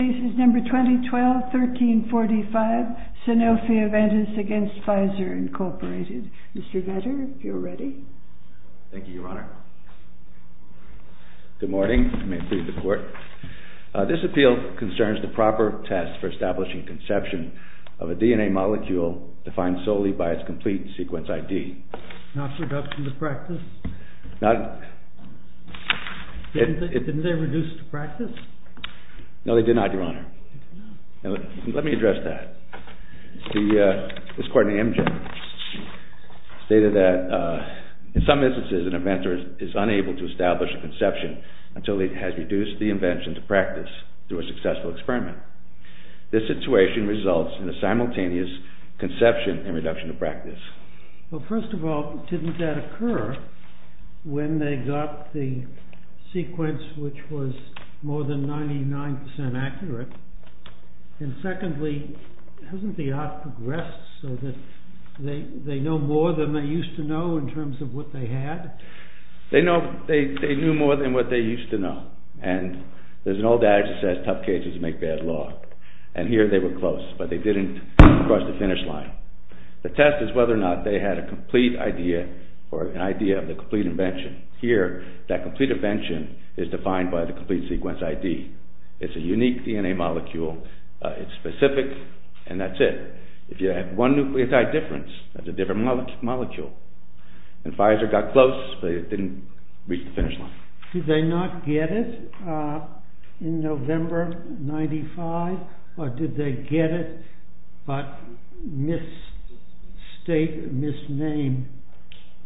Mr. Vetter, if you are ready. Thank you, Your Honor. Good morning. This appeal concerns the proper test for establishing conception of a DNA molecule defined solely by its complete sequence ID. Not reduction to practice? Didn't they reduce to practice? No, they did not, Your Honor. Let me address that. This court in Amgen stated that in some instances an inventor is unable to establish a conception until he has reduced the invention to practice through a successful experiment. This situation results in a simultaneous conception and reduction to practice. Well, first of all, didn't that occur when they got the sequence which was more than 99% accurate? And secondly, hasn't the art progressed so that they know more than they used to know in terms of what they had? They knew more than what they used to know, and there's an old adage that says tough cases make bad law, and here they were close, but they didn't cross the finish line. The test is whether or not they had a complete idea or an idea of the complete invention. Here, that complete invention is defined by the complete sequence ID. It's a unique DNA molecule. It's specific, and that's it. If you had one nucleotide difference, that's a different molecule. And Pfizer got close, but it didn't reach the finish line. Did they not get it in November of 1995, or did they get it but misnamed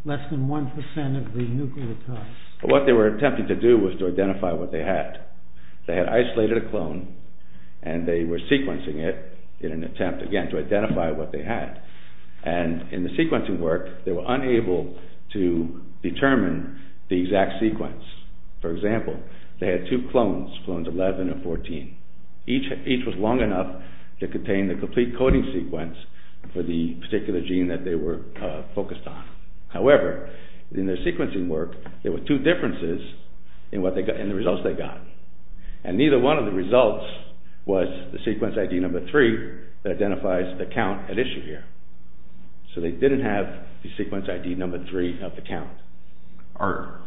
less than 1% of the nucleotides? What they were attempting to do was to identify what they had. They had isolated a clone, and they were sequencing it in an attempt, again, to identify what they had. And in the sequencing work, they were unable to determine the exact sequence. For example, they had two clones, clones 11 and 14. Each was long enough to contain the complete coding sequence for the particular gene that they were focused on. However, in their sequencing work, there were two differences in the results they got. And neither one of the results was the sequence ID number 3 that identifies the count at issue here. So they didn't have the sequence ID number 3 of the count.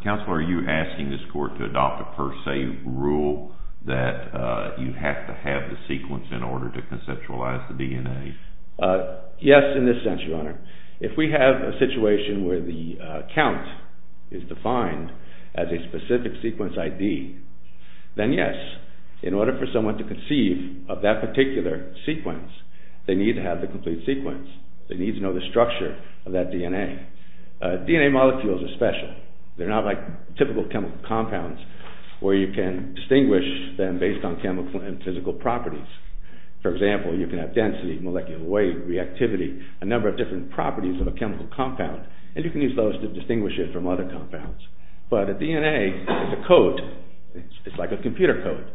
Counselor, are you asking this court to adopt a per se rule that you have to have the sequence in order to conceptualize the DNA? Yes, in this sense, Your Honor. If we have a situation where the count is defined as a specific sequence ID, then yes, in order for someone to conceive of that particular sequence, they need to have the complete sequence. They need to know the structure of that DNA. DNA molecules are special. They're not like typical chemical compounds where you can distinguish them based on chemical and physical properties. For example, you can have density, molecular weight, reactivity, a number of different properties of a chemical compound, and you can use those to distinguish it from other compounds. But a DNA is a code. It's like a computer code,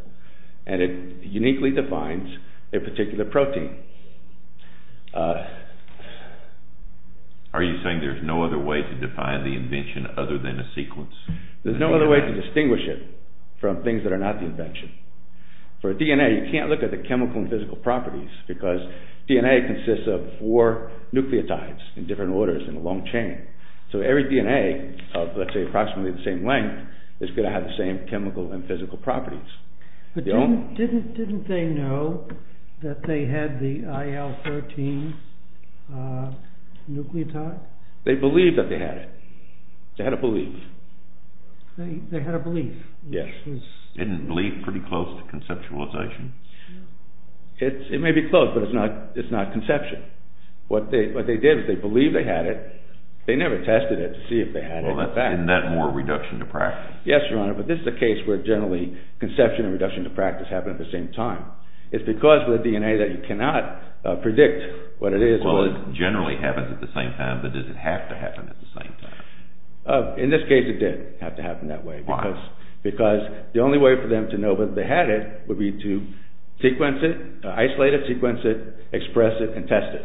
and it uniquely defines a particular protein. Are you saying there's no other way to define the invention other than a sequence? There's no other way to distinguish it from things that are not the invention. For DNA, you can't look at the chemical and physical properties because DNA consists of four nucleotides in different orders in a long chain. So every DNA of, let's say, approximately the same length is going to have the same chemical and physical properties. But didn't they know that they had the IL-13 nucleotide? They believed that they had it. They had a belief. They had a belief? Yes. Isn't belief pretty close to conceptualization? It may be close, but it's not conception. What they did was they believed they had it. They never tested it to see if they had it in fact. Isn't that more reduction to practice? Yes, Your Honor, but this is a case where generally conception and reduction to practice happen at the same time. It's because of the DNA that you cannot predict what it is. Well, it generally happens at the same time, but does it have to happen at the same time? Why? Because the only way for them to know that they had it would be to sequence it, isolate it, sequence it, express it, and test it.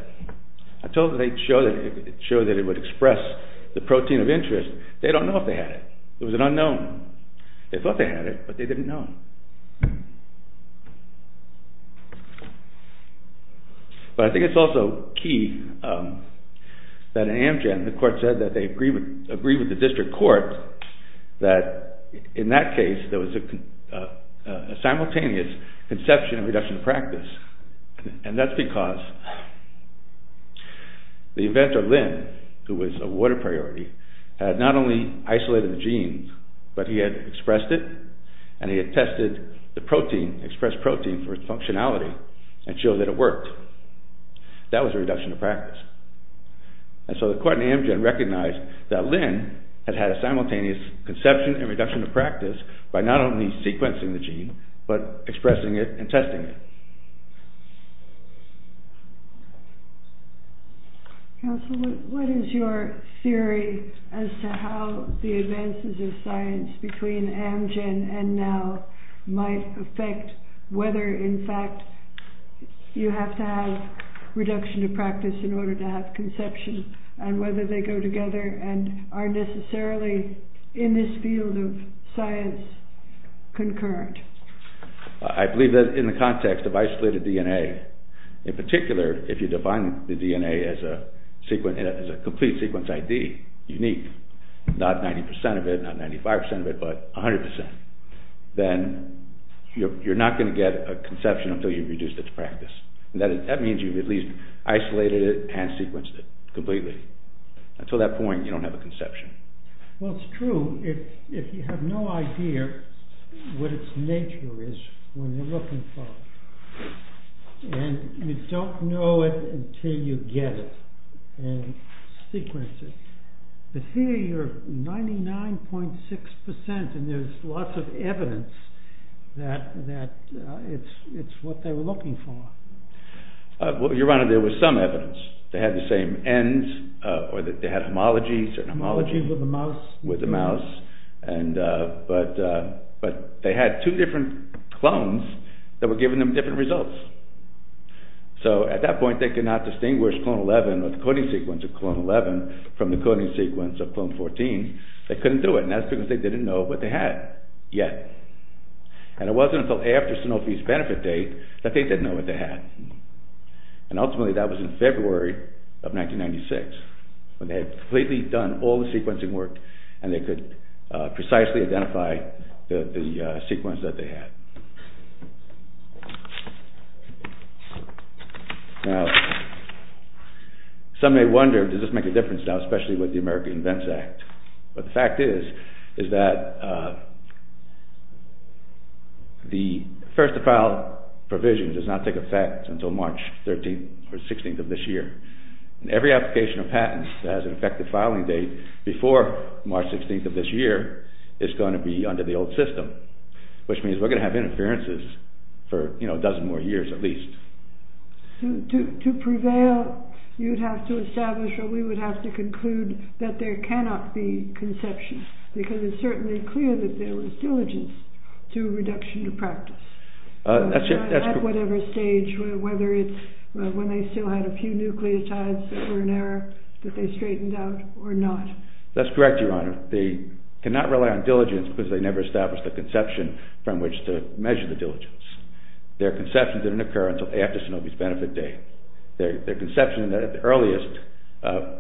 Until they showed that it would express the protein of interest, they don't know if they had it. It was an unknown. They thought they had it, but they didn't know. But I think it's also key that in Amgen the court said that they agreed with the district court that in that case there was a simultaneous conception and reduction to practice. And that's because the inventor Lynn, who was a water priority, had not only isolated the genes, but he had expressed it and he had tested it. He tested the protein, expressed protein for its functionality and showed that it worked. That was a reduction to practice. And so the court in Amgen recognized that Lynn had had a simultaneous conception and reduction to practice by not only sequencing the gene, but expressing it and testing it. Counsel, what is your theory as to how the advances of science between Amgen and now might affect whether in fact you have to have reduction to practice in order to have conception and whether they go together and are necessarily in this field of science concurrent? I believe that in the context of isolated DNA, in particular if you define the DNA as a complete sequence ID, unique, not 90% of it, not 95% of it, but 100%, then you're not going to get a conception until you've reduced it to practice. That means you've at least isolated it and sequenced it completely. Until that point you don't have a conception. Well, it's true. If you have no idea what its nature is when you're looking for it, and you don't know it until you get it and sequence it, but here you're 99.6% and there's lots of evidence that it's what they were looking for. Your Honor, there was some evidence. They had the same ends or they had homologies. Homology with a mouse? With a mouse, but they had two different clones that were giving them different results. So at that point they could not distinguish clone 11 or the coding sequence of clone 11 from the coding sequence of clone 14. They couldn't do it and that's because they didn't know what they had yet. And it wasn't until after Sanofi's benefit date that they didn't know what they had. And ultimately that was in February of 1996 when they had completely done all the sequencing work and they could precisely identify the sequence that they had. Now, some may wonder, does this make a difference now, especially with the American Invents Act? But the fact is, is that the first to file provision does not take effect until March 13th or 16th of this year. Every application of patents that has an effective filing date before March 16th of this year is going to be under the old system, which means we're going to have interferences for a dozen more years at least. So to prevail, you'd have to establish or we would have to conclude that there cannot be conception, because it's certainly clear that there was diligence to reduction of practice. At whatever stage, whether it's when they still had a few nucleotides that were in error, that they straightened out or not. That's correct, Your Honor. They cannot rely on diligence because they never established a conception from which to measure the diligence. Their conceptions didn't occur until after Sanofi's benefit date. Their conception at the earliest,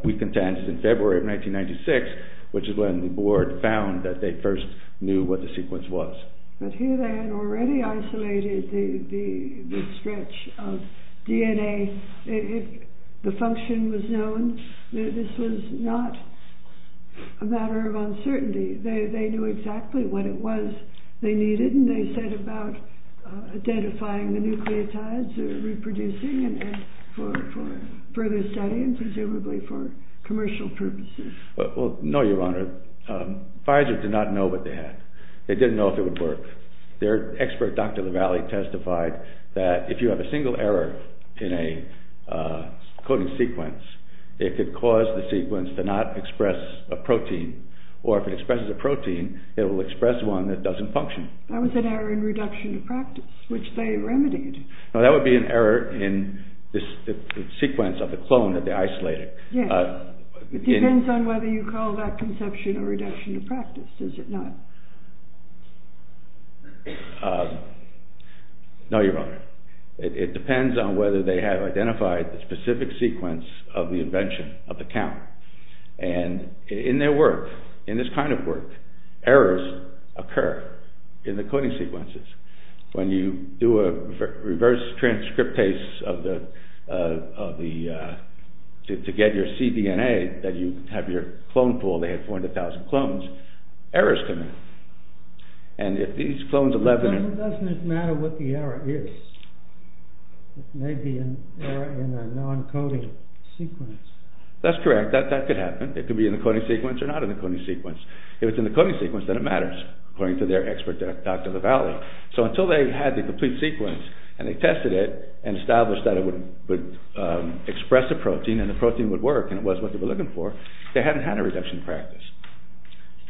we contend, is in February of 1996, which is when the board found that they first knew what the sequence was. But here they had already isolated the stretch of DNA. If the function was known, this was not a matter of uncertainty. They knew exactly what it was they needed, and they set about identifying the nucleotides, reproducing for further study and presumably for commercial purposes. Well, no, Your Honor. Pfizer did not know what they had. They didn't know if it would work. Their expert, Dr. Lavallee, testified that if you have a single error in a coding sequence, it could cause the sequence to not express a protein, or if it expresses a protein, it will express one that doesn't function. That was an error in reduction of practice, which they remedied. No, that would be an error in the sequence of the clone that they isolated. It depends on whether you call that conception a reduction of practice, does it not? No, Your Honor. It depends on whether they have identified the specific sequence of the invention of the count. And in their work, in this kind of work, errors occur in the coding sequences. When you do a reverse transcriptase to get your cDNA, that you have your clone pool, they had 400,000 clones, errors come in. And if these clones... It doesn't matter what the error is. It may be an error in a non-coding sequence. That's correct, that could happen. It could be in the coding sequence or not in the coding sequence. If it's in the coding sequence, then it matters, according to their expert, Dr. Lavallee. So until they had the complete sequence and they tested it and established that it would express a protein and the protein would work, and it was what they were looking for, they hadn't had a reduction of practice.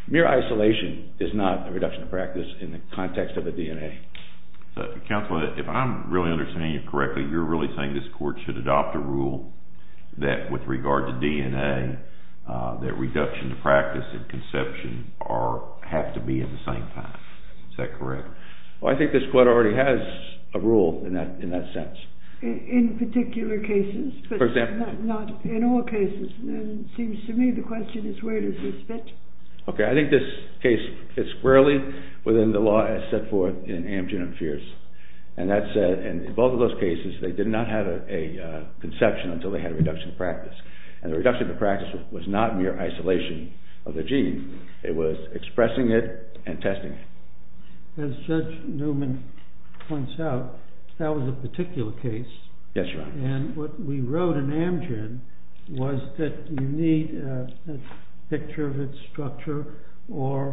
Mere isolation is not a reduction of practice in the context of the DNA. Counselor, if I'm really understanding you correctly, you're really saying this court should adopt a rule that with regard to DNA, that reduction of practice and conception have to be at the same time. Is that correct? Well, I think this court already has a rule in that sense. In particular cases, but not in all cases. It seems to me the question is where does this fit? Okay, I think this case fits squarely within the law as set forth in Amgen and Fierce. And that said, in both of those cases, they did not have a conception until they had a reduction of practice. And the reduction of practice was not mere isolation of the gene. It was expressing it and testing it. As Judge Newman points out, that was a particular case. Yes, Your Honor. And what we wrote in Amgen was that you need a picture of its structure or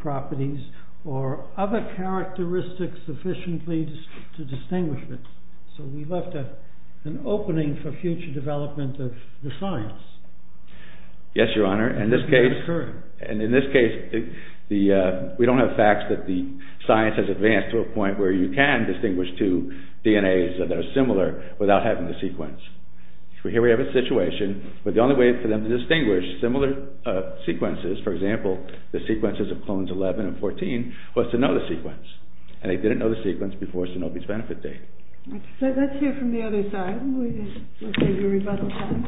properties or other characteristics sufficiently to distinguish it. So we left an opening for future development of the science. Yes, Your Honor. And in this case, we don't have facts that the science has advanced to a point where you can distinguish two DNAs that are similar without having to sequence. Here we have a situation where the only way for them to distinguish similar sequences, for example, the sequences of clones 11 and 14, was to know the sequence. And they didn't know the sequence before Sanovi's benefit date. So let's hear from the other side and we'll take a rebuttal time.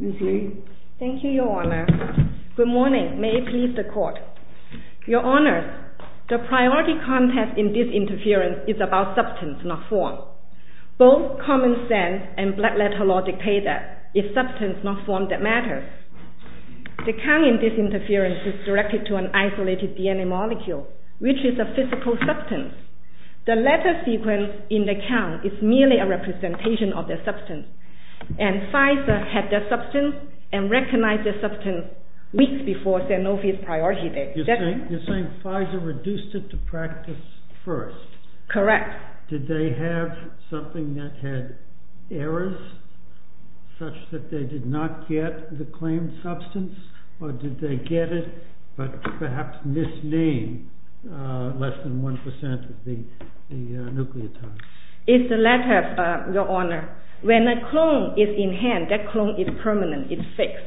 Ms. Lee. Thank you, Your Honor. Good morning. May it please the Court. Your Honor, the priority context in this interference is about substance, not form. Both common sense and black letter logic pay that. If substance, not form, that matters. The count in this interference is directed to an isolated DNA molecule, which is a physical substance. The letter sequence in the count is merely a representation of the substance. And Pfizer had the substance and recognized the substance weeks before Sanovi's priority date. You're saying Pfizer reduced it to practice first? Correct. Did they have something that had errors, such that they did not get the claimed substance? Or did they get it, but perhaps misnamed less than 1% of the nucleotides? It's the letter, Your Honor. When a clone is in hand, that clone is permanent, it's fixed.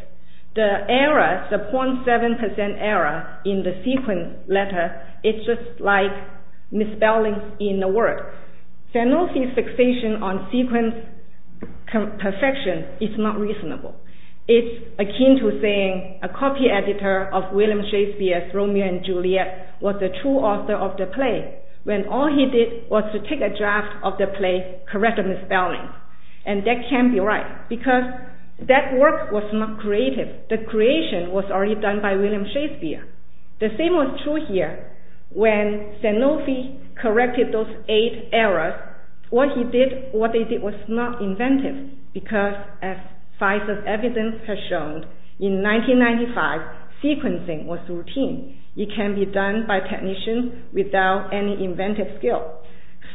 The error, the 0.7% error in the sequence letter, it's just like misspelling in the word. Sanovi's fixation on sequence perfection is not reasonable. It's akin to saying a copy editor of William Shakespeare's Romeo and Juliet was the true author of the play, when all he did was to take a draft of the play, correct the misspelling. And that can't be right, because that work was not creative. The creation was already done by William Shakespeare. The same was true here. When Sanovi corrected those eight errors, what he did, what they did was not inventive, because as Pfizer's evidence has shown, in 1995, sequencing was routine. It can be done by technicians without any inventive skill.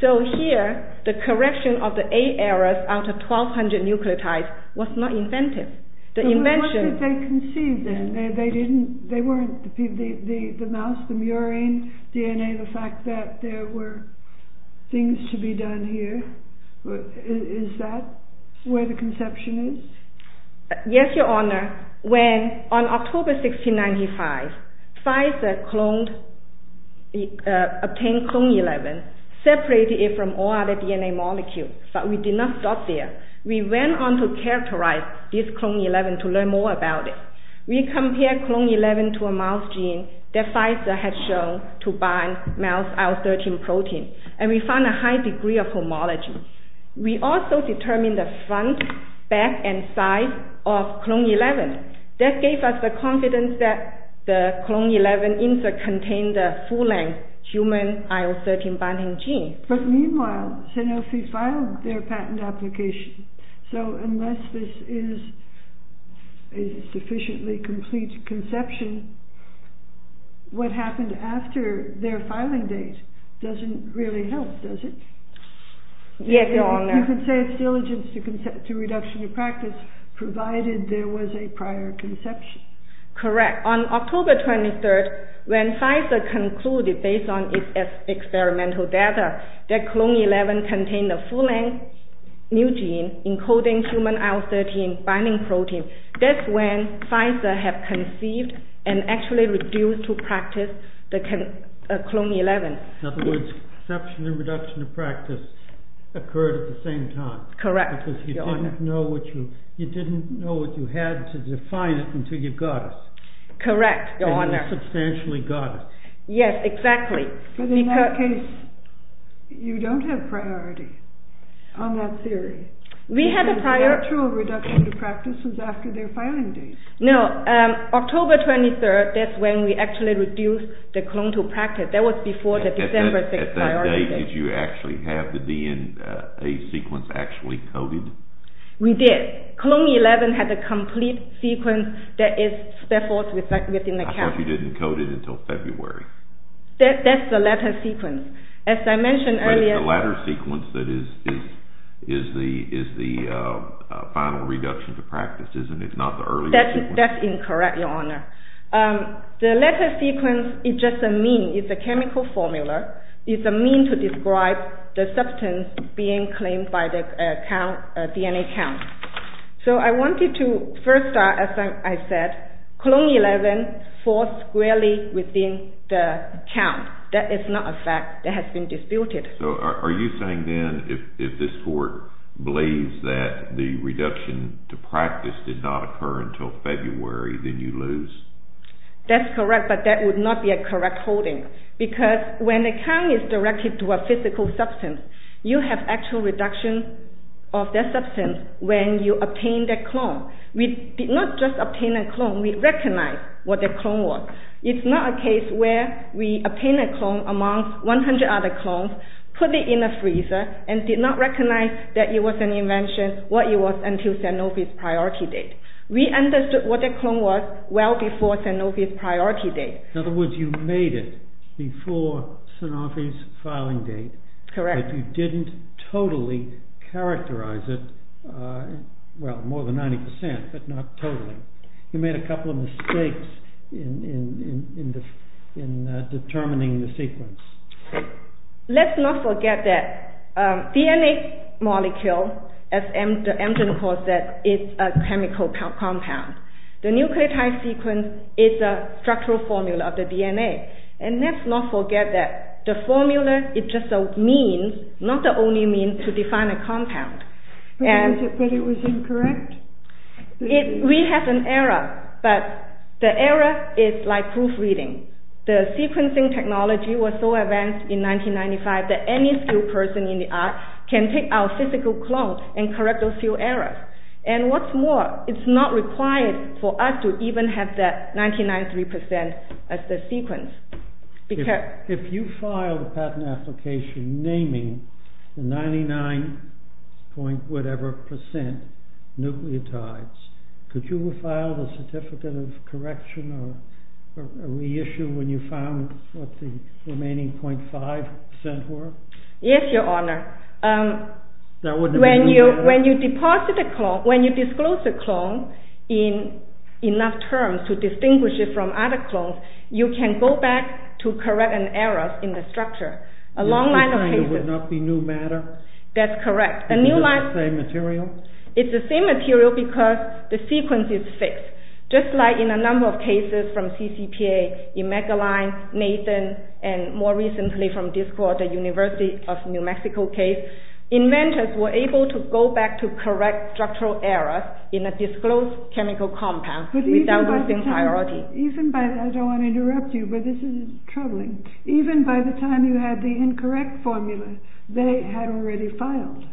So here, the correction of the eight errors out of 1,200 nucleotides was not inventive. But what did they conceive then? They weren't the mouse, the murine, DNA, the fact that there were things to be done here. Is that where the conception is? Yes, Your Honor. When, on October 16, 1995, Pfizer obtained clone 11, separated it from all other DNA molecules, but we did not stop there. We went on to characterize this clone 11 to learn more about it. We compared clone 11 to a mouse gene that Pfizer had shown to bind mouse IL-13 protein, and we found a high degree of homology. We also determined the front, back, and side of clone 11. That gave us the confidence that the clone 11 insert contained a full-length human IL-13 binding gene. But meanwhile, Sanovi filed their patent application. So unless this is a sufficiently complete conception, what happened after their filing date doesn't really help, does it? Yes, Your Honor. You can say it's diligence to reduction of practice, provided there was a prior conception. Correct. On October 23, when Pfizer concluded, based on its experimental data, that clone 11 contained a full-length new gene encoding human IL-13 binding protein, that's when Pfizer had conceived and actually refused to practice clone 11. In other words, conception and reduction of practice occurred at the same time. Correct, Your Honor. Because you didn't know what you had to define it until you got it. Correct, Your Honor. And you substantially got it. Yes, exactly. But in that case, you don't have priority on that theory. We had a priority. The actual reduction of practice was after their filing date. No. October 23, that's when we actually reduced the clone to practice. That was before the December 6th priority date. At that date, did you actually have the DNA sequence actually coded? We did. Clone 11 had a complete sequence that is therefore within the county. I thought you didn't code it until February. That's the latter sequence. As I mentioned earlier— But it's the latter sequence that is the final reduction to practice, isn't it? It's not the earlier sequence. That's incorrect, Your Honor. The latter sequence is just a mean. It's a chemical formula. It's a mean to describe the substance being claimed by the DNA count. So I wanted to first start, as I said, clone 11 falls squarely within the count. That is not a fact that has been disputed. So are you saying then if this court believes that the reduction to practice did not occur until February, then you lose? That's correct, but that would not be a correct holding because when the count is directed to a physical substance, you have actual reduction of that substance when you obtain that clone. We did not just obtain a clone. We recognized what that clone was. It's not a case where we obtain a clone among 100 other clones, put it in a freezer, and did not recognize that it was an invention, what it was, until Sanofi's priority date. We understood what that clone was well before Sanofi's priority date. In other words, you made it before Sanofi's filing date. Correct. But you didn't totally characterize it. Well, more than 90 percent, but not totally. You made a couple of mistakes in determining the sequence. Let's not forget that DNA molecule, as the engine calls it, is a chemical compound. The nucleotide sequence is a structural formula of the DNA. And let's not forget that the formula is just a means, not the only means, to define a compound. But it was incorrect? We have an error, but the error is like proofreading. The sequencing technology was so advanced in 1995 that any skilled person in the art can take our physical clone and correct those few errors. And what's more, it's not required for us to even have that 99.3 percent as the sequence. If you filed a patent application naming the 99-point-whatever-percent nucleotides, could you have filed a certificate of correction or reissue when you found what the remaining 0.5 percent were? Yes, Your Honor. When you disclose a clone in enough terms to distinguish it from other clones, you can go back to correct an error in the structure. A long line of cases. It would not be new matter? That's correct. Is it the same material? It's the same material because the sequence is fixed. Just like in a number of cases from CCPA, Emeagwali, Nathan, and more recently from Discord, the University of New Mexico case, inventors were able to go back to correct structural errors in a disclosed chemical compound without losing priority. I don't want to interrupt you, but this is troubling. Even by the time you had the incorrect formula, they had already filed?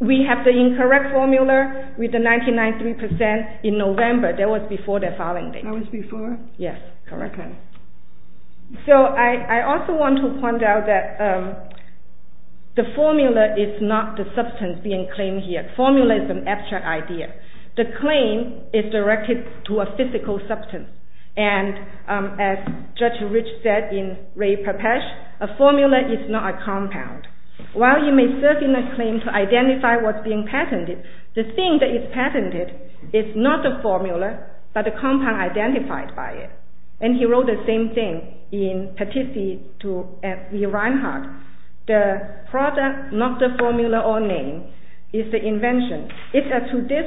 We have the incorrect formula with the 99.3 percent in November. That was before their filing date. That was before? Yes, correct. Okay. So I also want to point out that the formula is not the substance being claimed here. The formula is an abstract idea. The claim is directed to a physical substance. And as Judge Rich said in Ray Popesh, a formula is not a compound. While you may search in a claim to identify what's being patented, the thing that is patented is not the formula, but the compound identified by it. And he wrote the same thing in Petitsi v. Reinhart. The product, not the formula or name, is the invention. It's up to this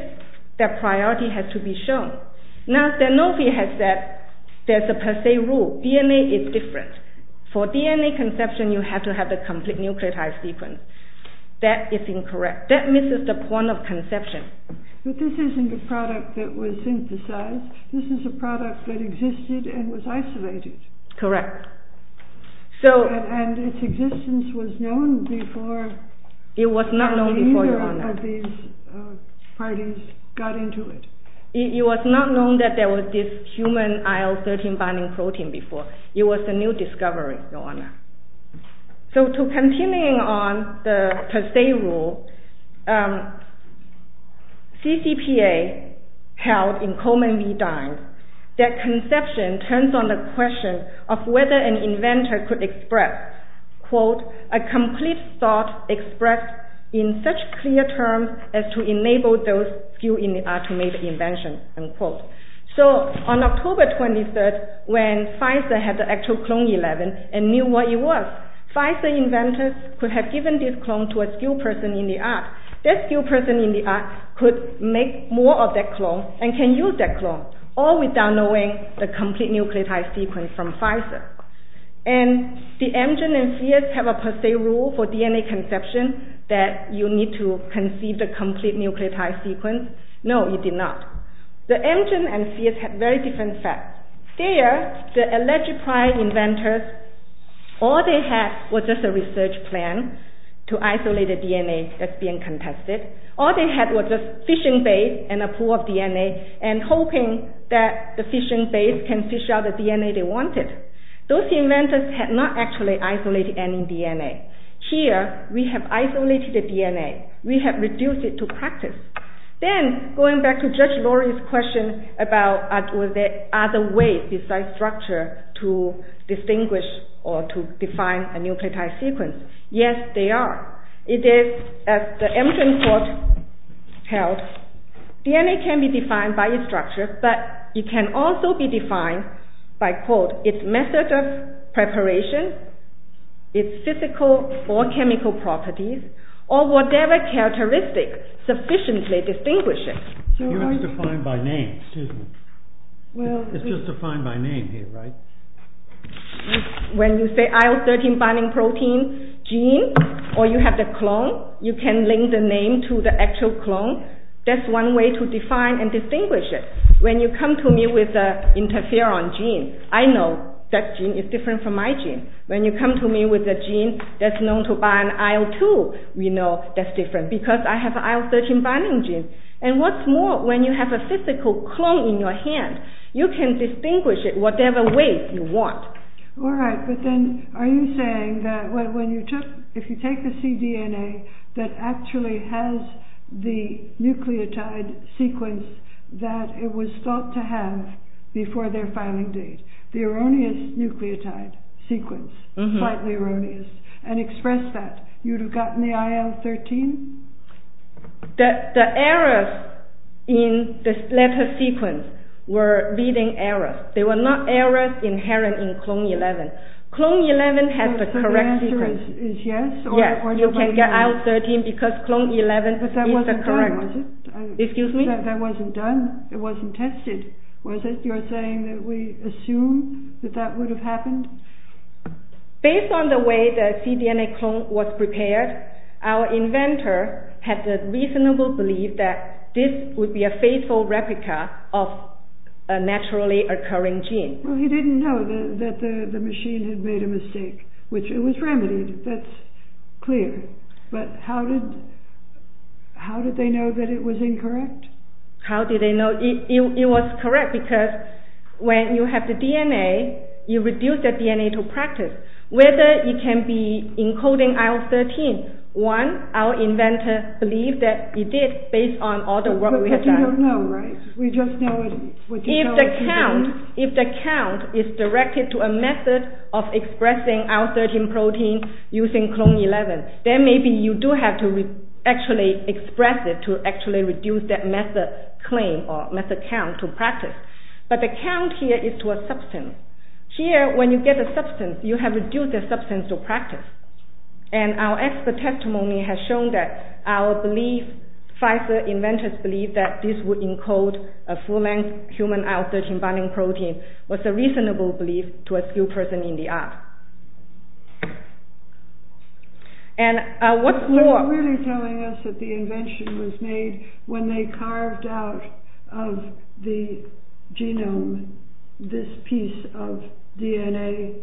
that priority has to be shown. Now, De Novi has said there's a per se rule. DNA is different. For DNA conception, you have to have a complete nucleotide sequence. That is incorrect. That misses the point of conception. But this isn't a product that was synthesized. This is a product that existed and was isolated. Correct. And its existence was known before? How do you know that these parties got into it? It was not known that there was this human IL-13 binding protein before. It was a new discovery, Your Honor. So to continue on the per se rule, CCPA held in Coleman v. Dines that conception turns on the question of whether an inventor could express, quote, a complete thought expressed in such clear terms as to enable those skilled in the art to make the invention, unquote. So on October 23rd, when Pfizer had the actual clone IL-11 and knew what it was, Pfizer inventors could have given this clone to a skilled person in the art. That skilled person in the art could make more of that clone and can use that clone, all without knowing the complete nucleotide sequence from Pfizer. And did Amgen and Fierce have a per se rule for DNA conception that you need to conceive the complete nucleotide sequence? No, you did not. The Amgen and Fierce had very different facts. There, the alleged prior inventors, all they had was just a research plan to isolate a DNA that's being contested. and hoping that the fishing base can fish out the DNA they wanted. Those inventors had not actually isolated any DNA. Here, we have isolated the DNA. We have reduced it to practice. Then, going back to Judge Lori's question about are there other ways besides structure to distinguish or to define a nucleotide sequence? Yes, there are. It is, as the Amgen court held, DNA can be defined by its structure, but it can also be defined by, quote, its method of preparation, its physical or chemical properties, or whatever characteristics sufficiently distinguish it. It's defined by name, excuse me. It's just defined by name here, right? When you say IL-13 binding protein gene or you have the clone, you can link the name to the actual clone. That's one way to define and distinguish it. When you come to me with an interferon gene, I know that gene is different from my gene. When you come to me with a gene that's known to bind IL-2, we know that's different because I have IL-13 binding gene. And what's more, when you have a physical clone in your hand, you can distinguish it whatever way you want. All right, but then are you saying that if you take the cDNA that actually has the nucleotide sequence that it was thought to have before their filing date, the erroneous nucleotide sequence, slightly erroneous, and express that, you'd have gotten the IL-13? The errors in this letter sequence were leading errors. They were not errors inherent in clone 11. Clone 11 has the correct sequence. So the answer is yes? Yes, you can get IL-13 because clone 11 is the correct... But that wasn't done, was it? Excuse me? That wasn't done, it wasn't tested, was it? You're saying that we assume that that would have happened? Based on the way the cDNA clone was prepared, our inventor had the reasonable belief that this would be a faithful replica of a naturally occurring gene. Well, he didn't know that the machine had made a mistake, which it was remedied, that's clear. But how did they know that it was incorrect? How did they know? It was correct because when you have the DNA, you reduce the DNA to practice. Whether it can be encoding IL-13, one, our inventor believed that it did based on all the work we had done. Because we don't know, right? If the count is directed to a method of expressing IL-13 protein using clone 11, then maybe you do have to actually express it to actually reduce that method claim or method count to practice. But the count here is to a substance. Here, when you get a substance, you have reduced the substance to practice. And our expert testimony has shown that our belief, Pfizer inventors believed that this would encode a full-length human IL-13 binding protein was a reasonable belief to a skilled person in the art. And what's more... So you're really telling us that the invention was made when they carved out of the genome this piece of DNA,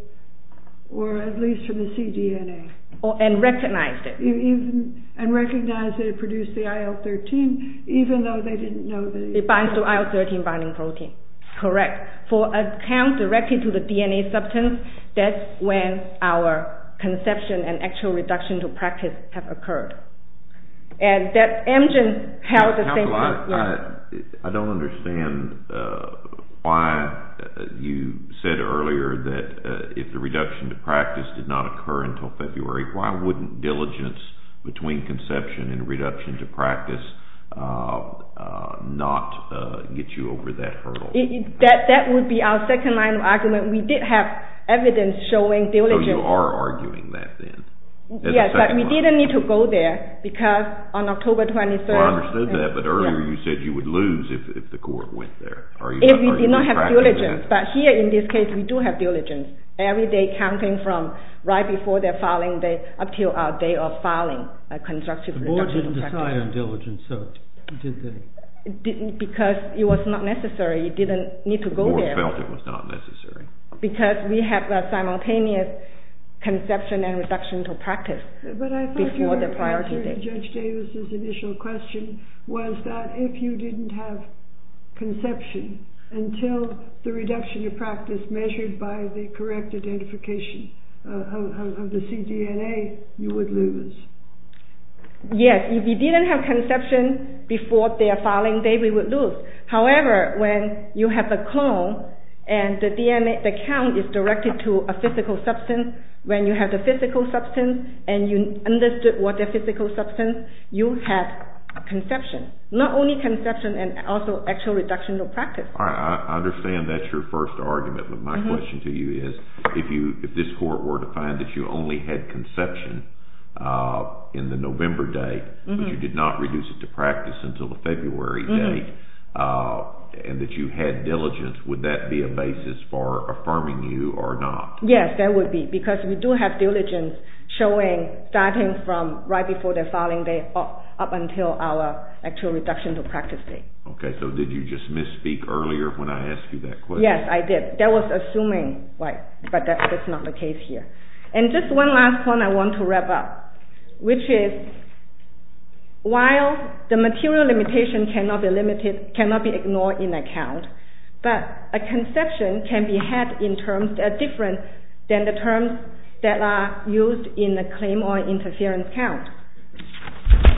or at least from the cDNA. And recognized it. And recognized that it produced the IL-13 even though they didn't know... It binds to IL-13 binding protein. Correct. For a count directed to the DNA substance, that's when our conception and actual reduction to practice have occurred. And that engine held the same... I don't understand why you said earlier that if the reduction to practice did not occur until February, why wouldn't diligence between conception and reduction to practice not get you over that hurdle? That would be our second line of argument. We did have evidence showing diligence... So you are arguing that then? Yes, but we didn't need to go there because on October 23rd... I understood that, but earlier you said you would lose if the court went there. If we did not have diligence. But here in this case we do have diligence. Every day counting from right before their filing date up to our day of filing a constructive reduction to practice. The board didn't decide on diligence, so did they? Because it was not necessary. You didn't need to go there. The board felt it was not necessary. Because we have a simultaneous conception and reduction to practice before the priority date. But I thought your answer to Judge Davis' initial question was that if you didn't have conception until the reduction to practice measured by the correct identification of the cDNA, you would lose. Yes, if you didn't have conception before their filing date, we would lose. However, when you have a clone and the count is directed to a physical substance, when you have the physical substance and you understood what the physical substance is, you have conception. Not only conception, but also actual reduction to practice. I understand that's your first argument, but my question to you is if this court were to find that you only had conception in the November date, but you did not reduce it to practice until the February date, and that you had diligence, would that be a basis for affirming you or not? Yes, that would be, because we do have diligence showing starting from right before the filing date up until our actual reduction to practice date. Okay, so did you just misspeak earlier when I asked you that question? Yes, I did. That was assuming, but that's not the case here. And just one last point I want to wrap up, which is while the material limitation cannot be ignored in a count, but a conception can be had in terms that are different than the terms that are used in a claim or interference count.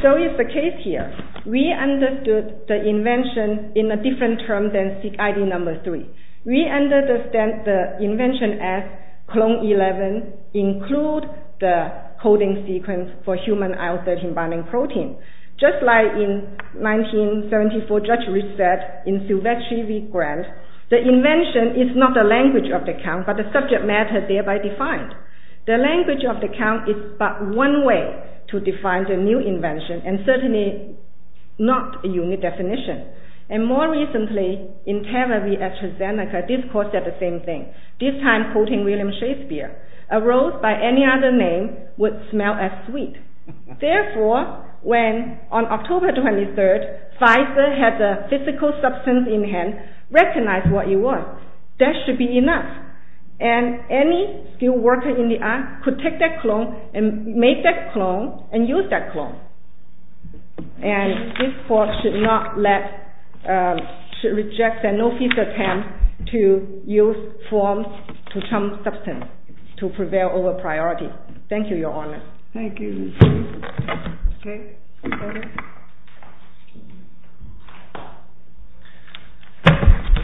So it's the case here. We understood the invention in a different term than SIG-ID number 3. We understand the invention as clone 11 include the coding sequence for human IL-13 binding protein. Just like in 1974, Judge Rich said in Silvetti v. Grant, the invention is not the language of the count, but the subject matter thereby defined. The language of the count is but one way to define the new invention and certainly not a unique definition. And more recently, in Taver v. Etchizenica, this court said the same thing, this time quoting William Shakespeare, a rose by any other name would smell as sweet. Therefore, when on October 23rd Pfizer has a physical substance in hand, recognize what you want. That should be enough. And any skilled worker in the art could take that clone and make that clone and use that clone. And this court should not let, should reject the no-fees attempt to use forms to trump substance to prevail over priority. Thank you, Your Honor. Thank you.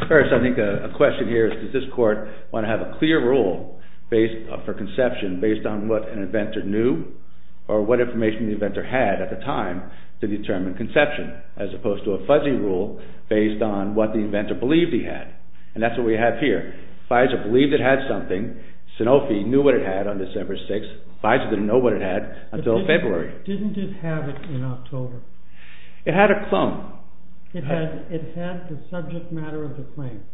First, I think a question here is, does this court want to have a clear rule for conception based on what an inventor knew or what information the inventor had at the time to determine conception as opposed to a fuzzy rule based on what the inventor believed he had. And that's what we have here. Pfizer believed it had something. Sanofi knew what it had on December 6th. Pfizer didn't know what it had until February. Didn't it have it in October? It had a clone. It had the subject matter of the claim.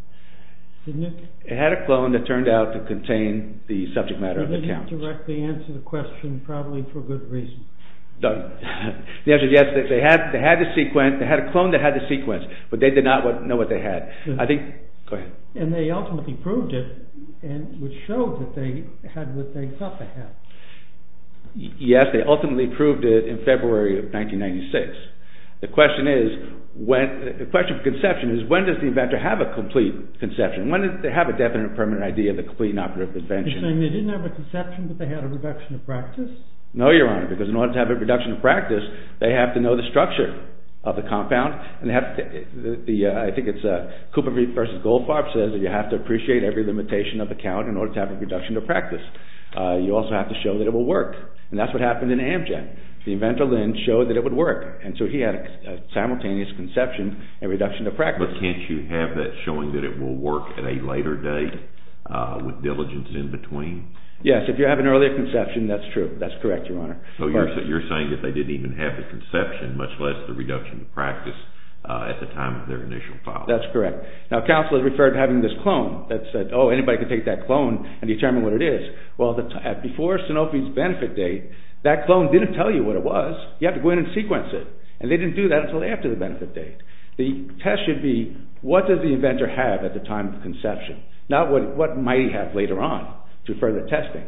It had a clone that turned out to contain the subject matter of the count. It didn't directly answer the question, probably for good reason. The answer is yes, they had the sequence, they had a clone that had the sequence, but they did not know what they had. And they ultimately proved it, which showed that they had what they thought they had. Yes, they ultimately proved it in February of 1996. The question for conception is, when does the inventor have a complete conception? When did they have a definite, permanent idea of the complete and operative invention? You're saying they didn't have a conception, but they had a reduction of practice? No, Your Honor, because in order to have a reduction of practice, they have to know the structure of the compound. I think it's Cooper v. Goldfarb says that you have to appreciate every limitation of the count in order to have a reduction of practice. You also have to show that it will work, and that's what happened in Amgen. The inventor then showed that it would work, and so he had a simultaneous conception and reduction of practice. But can't you have that showing that it will work at a later date, with diligence in between? Yes, if you have an earlier conception, that's true. That's correct, Your Honor. So you're saying that they didn't even have the conception, much less the reduction of practice, at the time of their initial filing. That's correct. Now, counsel has referred to having this clone that said, oh, anybody can take that clone and determine what it is. Well, before Sanofi's benefit date, that clone didn't tell you what it was. You have to go in and sequence it, and they didn't do that until after the benefit date. The test should be what does the inventor have at the time of conception, not what might he have later on to further testing.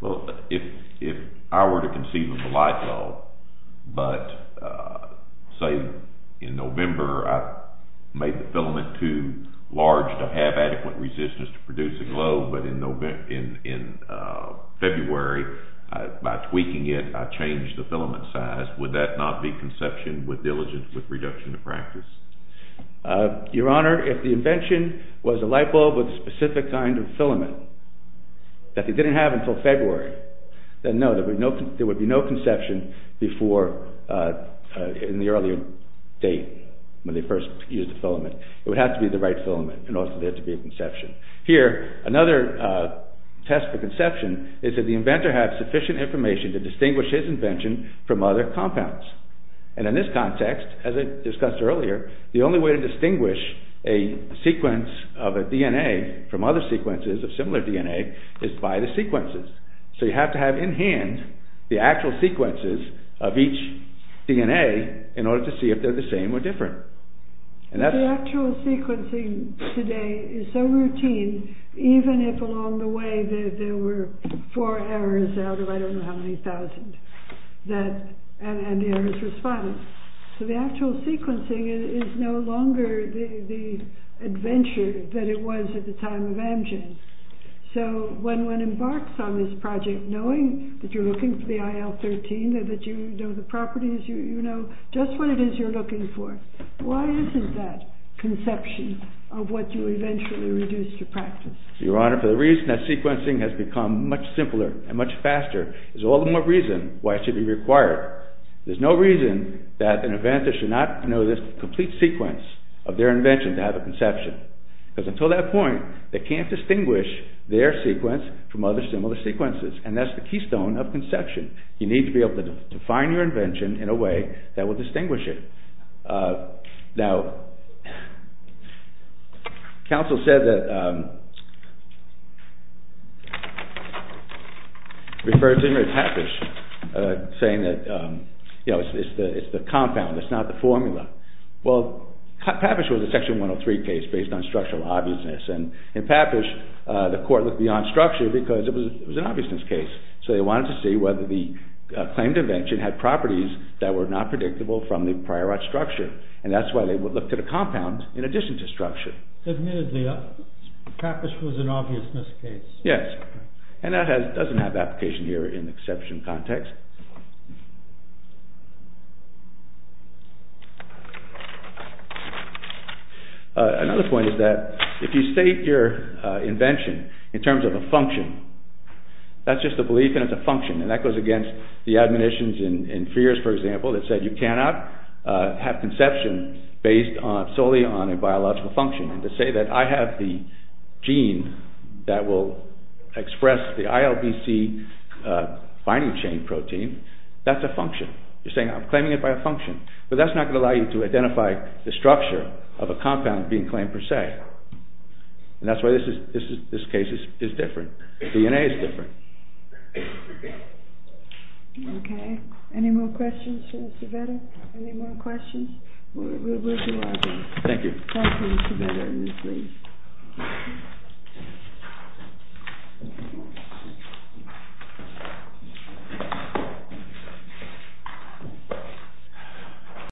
Well, if I were to conceive of a light bulb, but, say, in November I made the filament too large to have adequate resistance to produce a globe, but in February, by tweaking it, I changed the filament size, would that not be conception with diligence with reduction of practice? Your Honor, if the invention was a light bulb with a specific kind of filament that they didn't have until February, then no, there would be no conception before, in the earlier date, when they first used the filament. It would have to be the right filament in order for there to be a conception. Here, another test for conception is that the inventor has sufficient information to distinguish his invention from other compounds. And in this context, as I discussed earlier, the only way to distinguish a sequence of a DNA from other sequences of similar DNA is by the sequences. So you have to have in hand the actual sequences of each DNA in order to see if they're the same or different. The actual sequencing today is so routine, even if along the way there were four errors out of I don't know how many thousands, and the errors were spotless. So the actual sequencing is no longer the adventure that it was at the time of Amgen. So when one embarks on this project knowing that you're looking for the IL-13 and that you know the properties, you know just what it is you're looking for, why isn't that conception of what you eventually reduce to practice? Your Honor, for the reason that sequencing has become much simpler and much faster is all the more reason why it should be required. There's no reason that an inventor should not know this complete sequence of their invention to have a conception. Because until that point they can't distinguish their sequence from other similar sequences and that's the keystone of conception. You need to be able to define your invention in a way that will distinguish it. Now, counsel said that, referred to him as Papish, saying that it's the compound, it's not the formula. Well, Papish was a section 103 case based on structural obviousness and in Papish the court looked beyond structure because it was an obviousness case. So they wanted to see whether the claimed invention had properties that were not predictable from the prior art structure. And that's why they looked at a compound in addition to structure. Admittedly, Papish was an obviousness case. Yes, and that doesn't have application here in exception context. Another point is that if you state your invention in terms of a function, that's just a belief and it's a function. And that goes against the admonitions in Frears, for example, that said you cannot have conception based solely on a biological function. And to say that I have the gene that will express the ILBC binding chain protein, that's a function. You're saying I'm claiming it by a function. But that's not going to allow you to identify the structure of a compound being claimed per se. And that's why this case is different. DNA is different. Okay, any more questions for Mr. Vedder? Any more questions? Thank you. Thank you.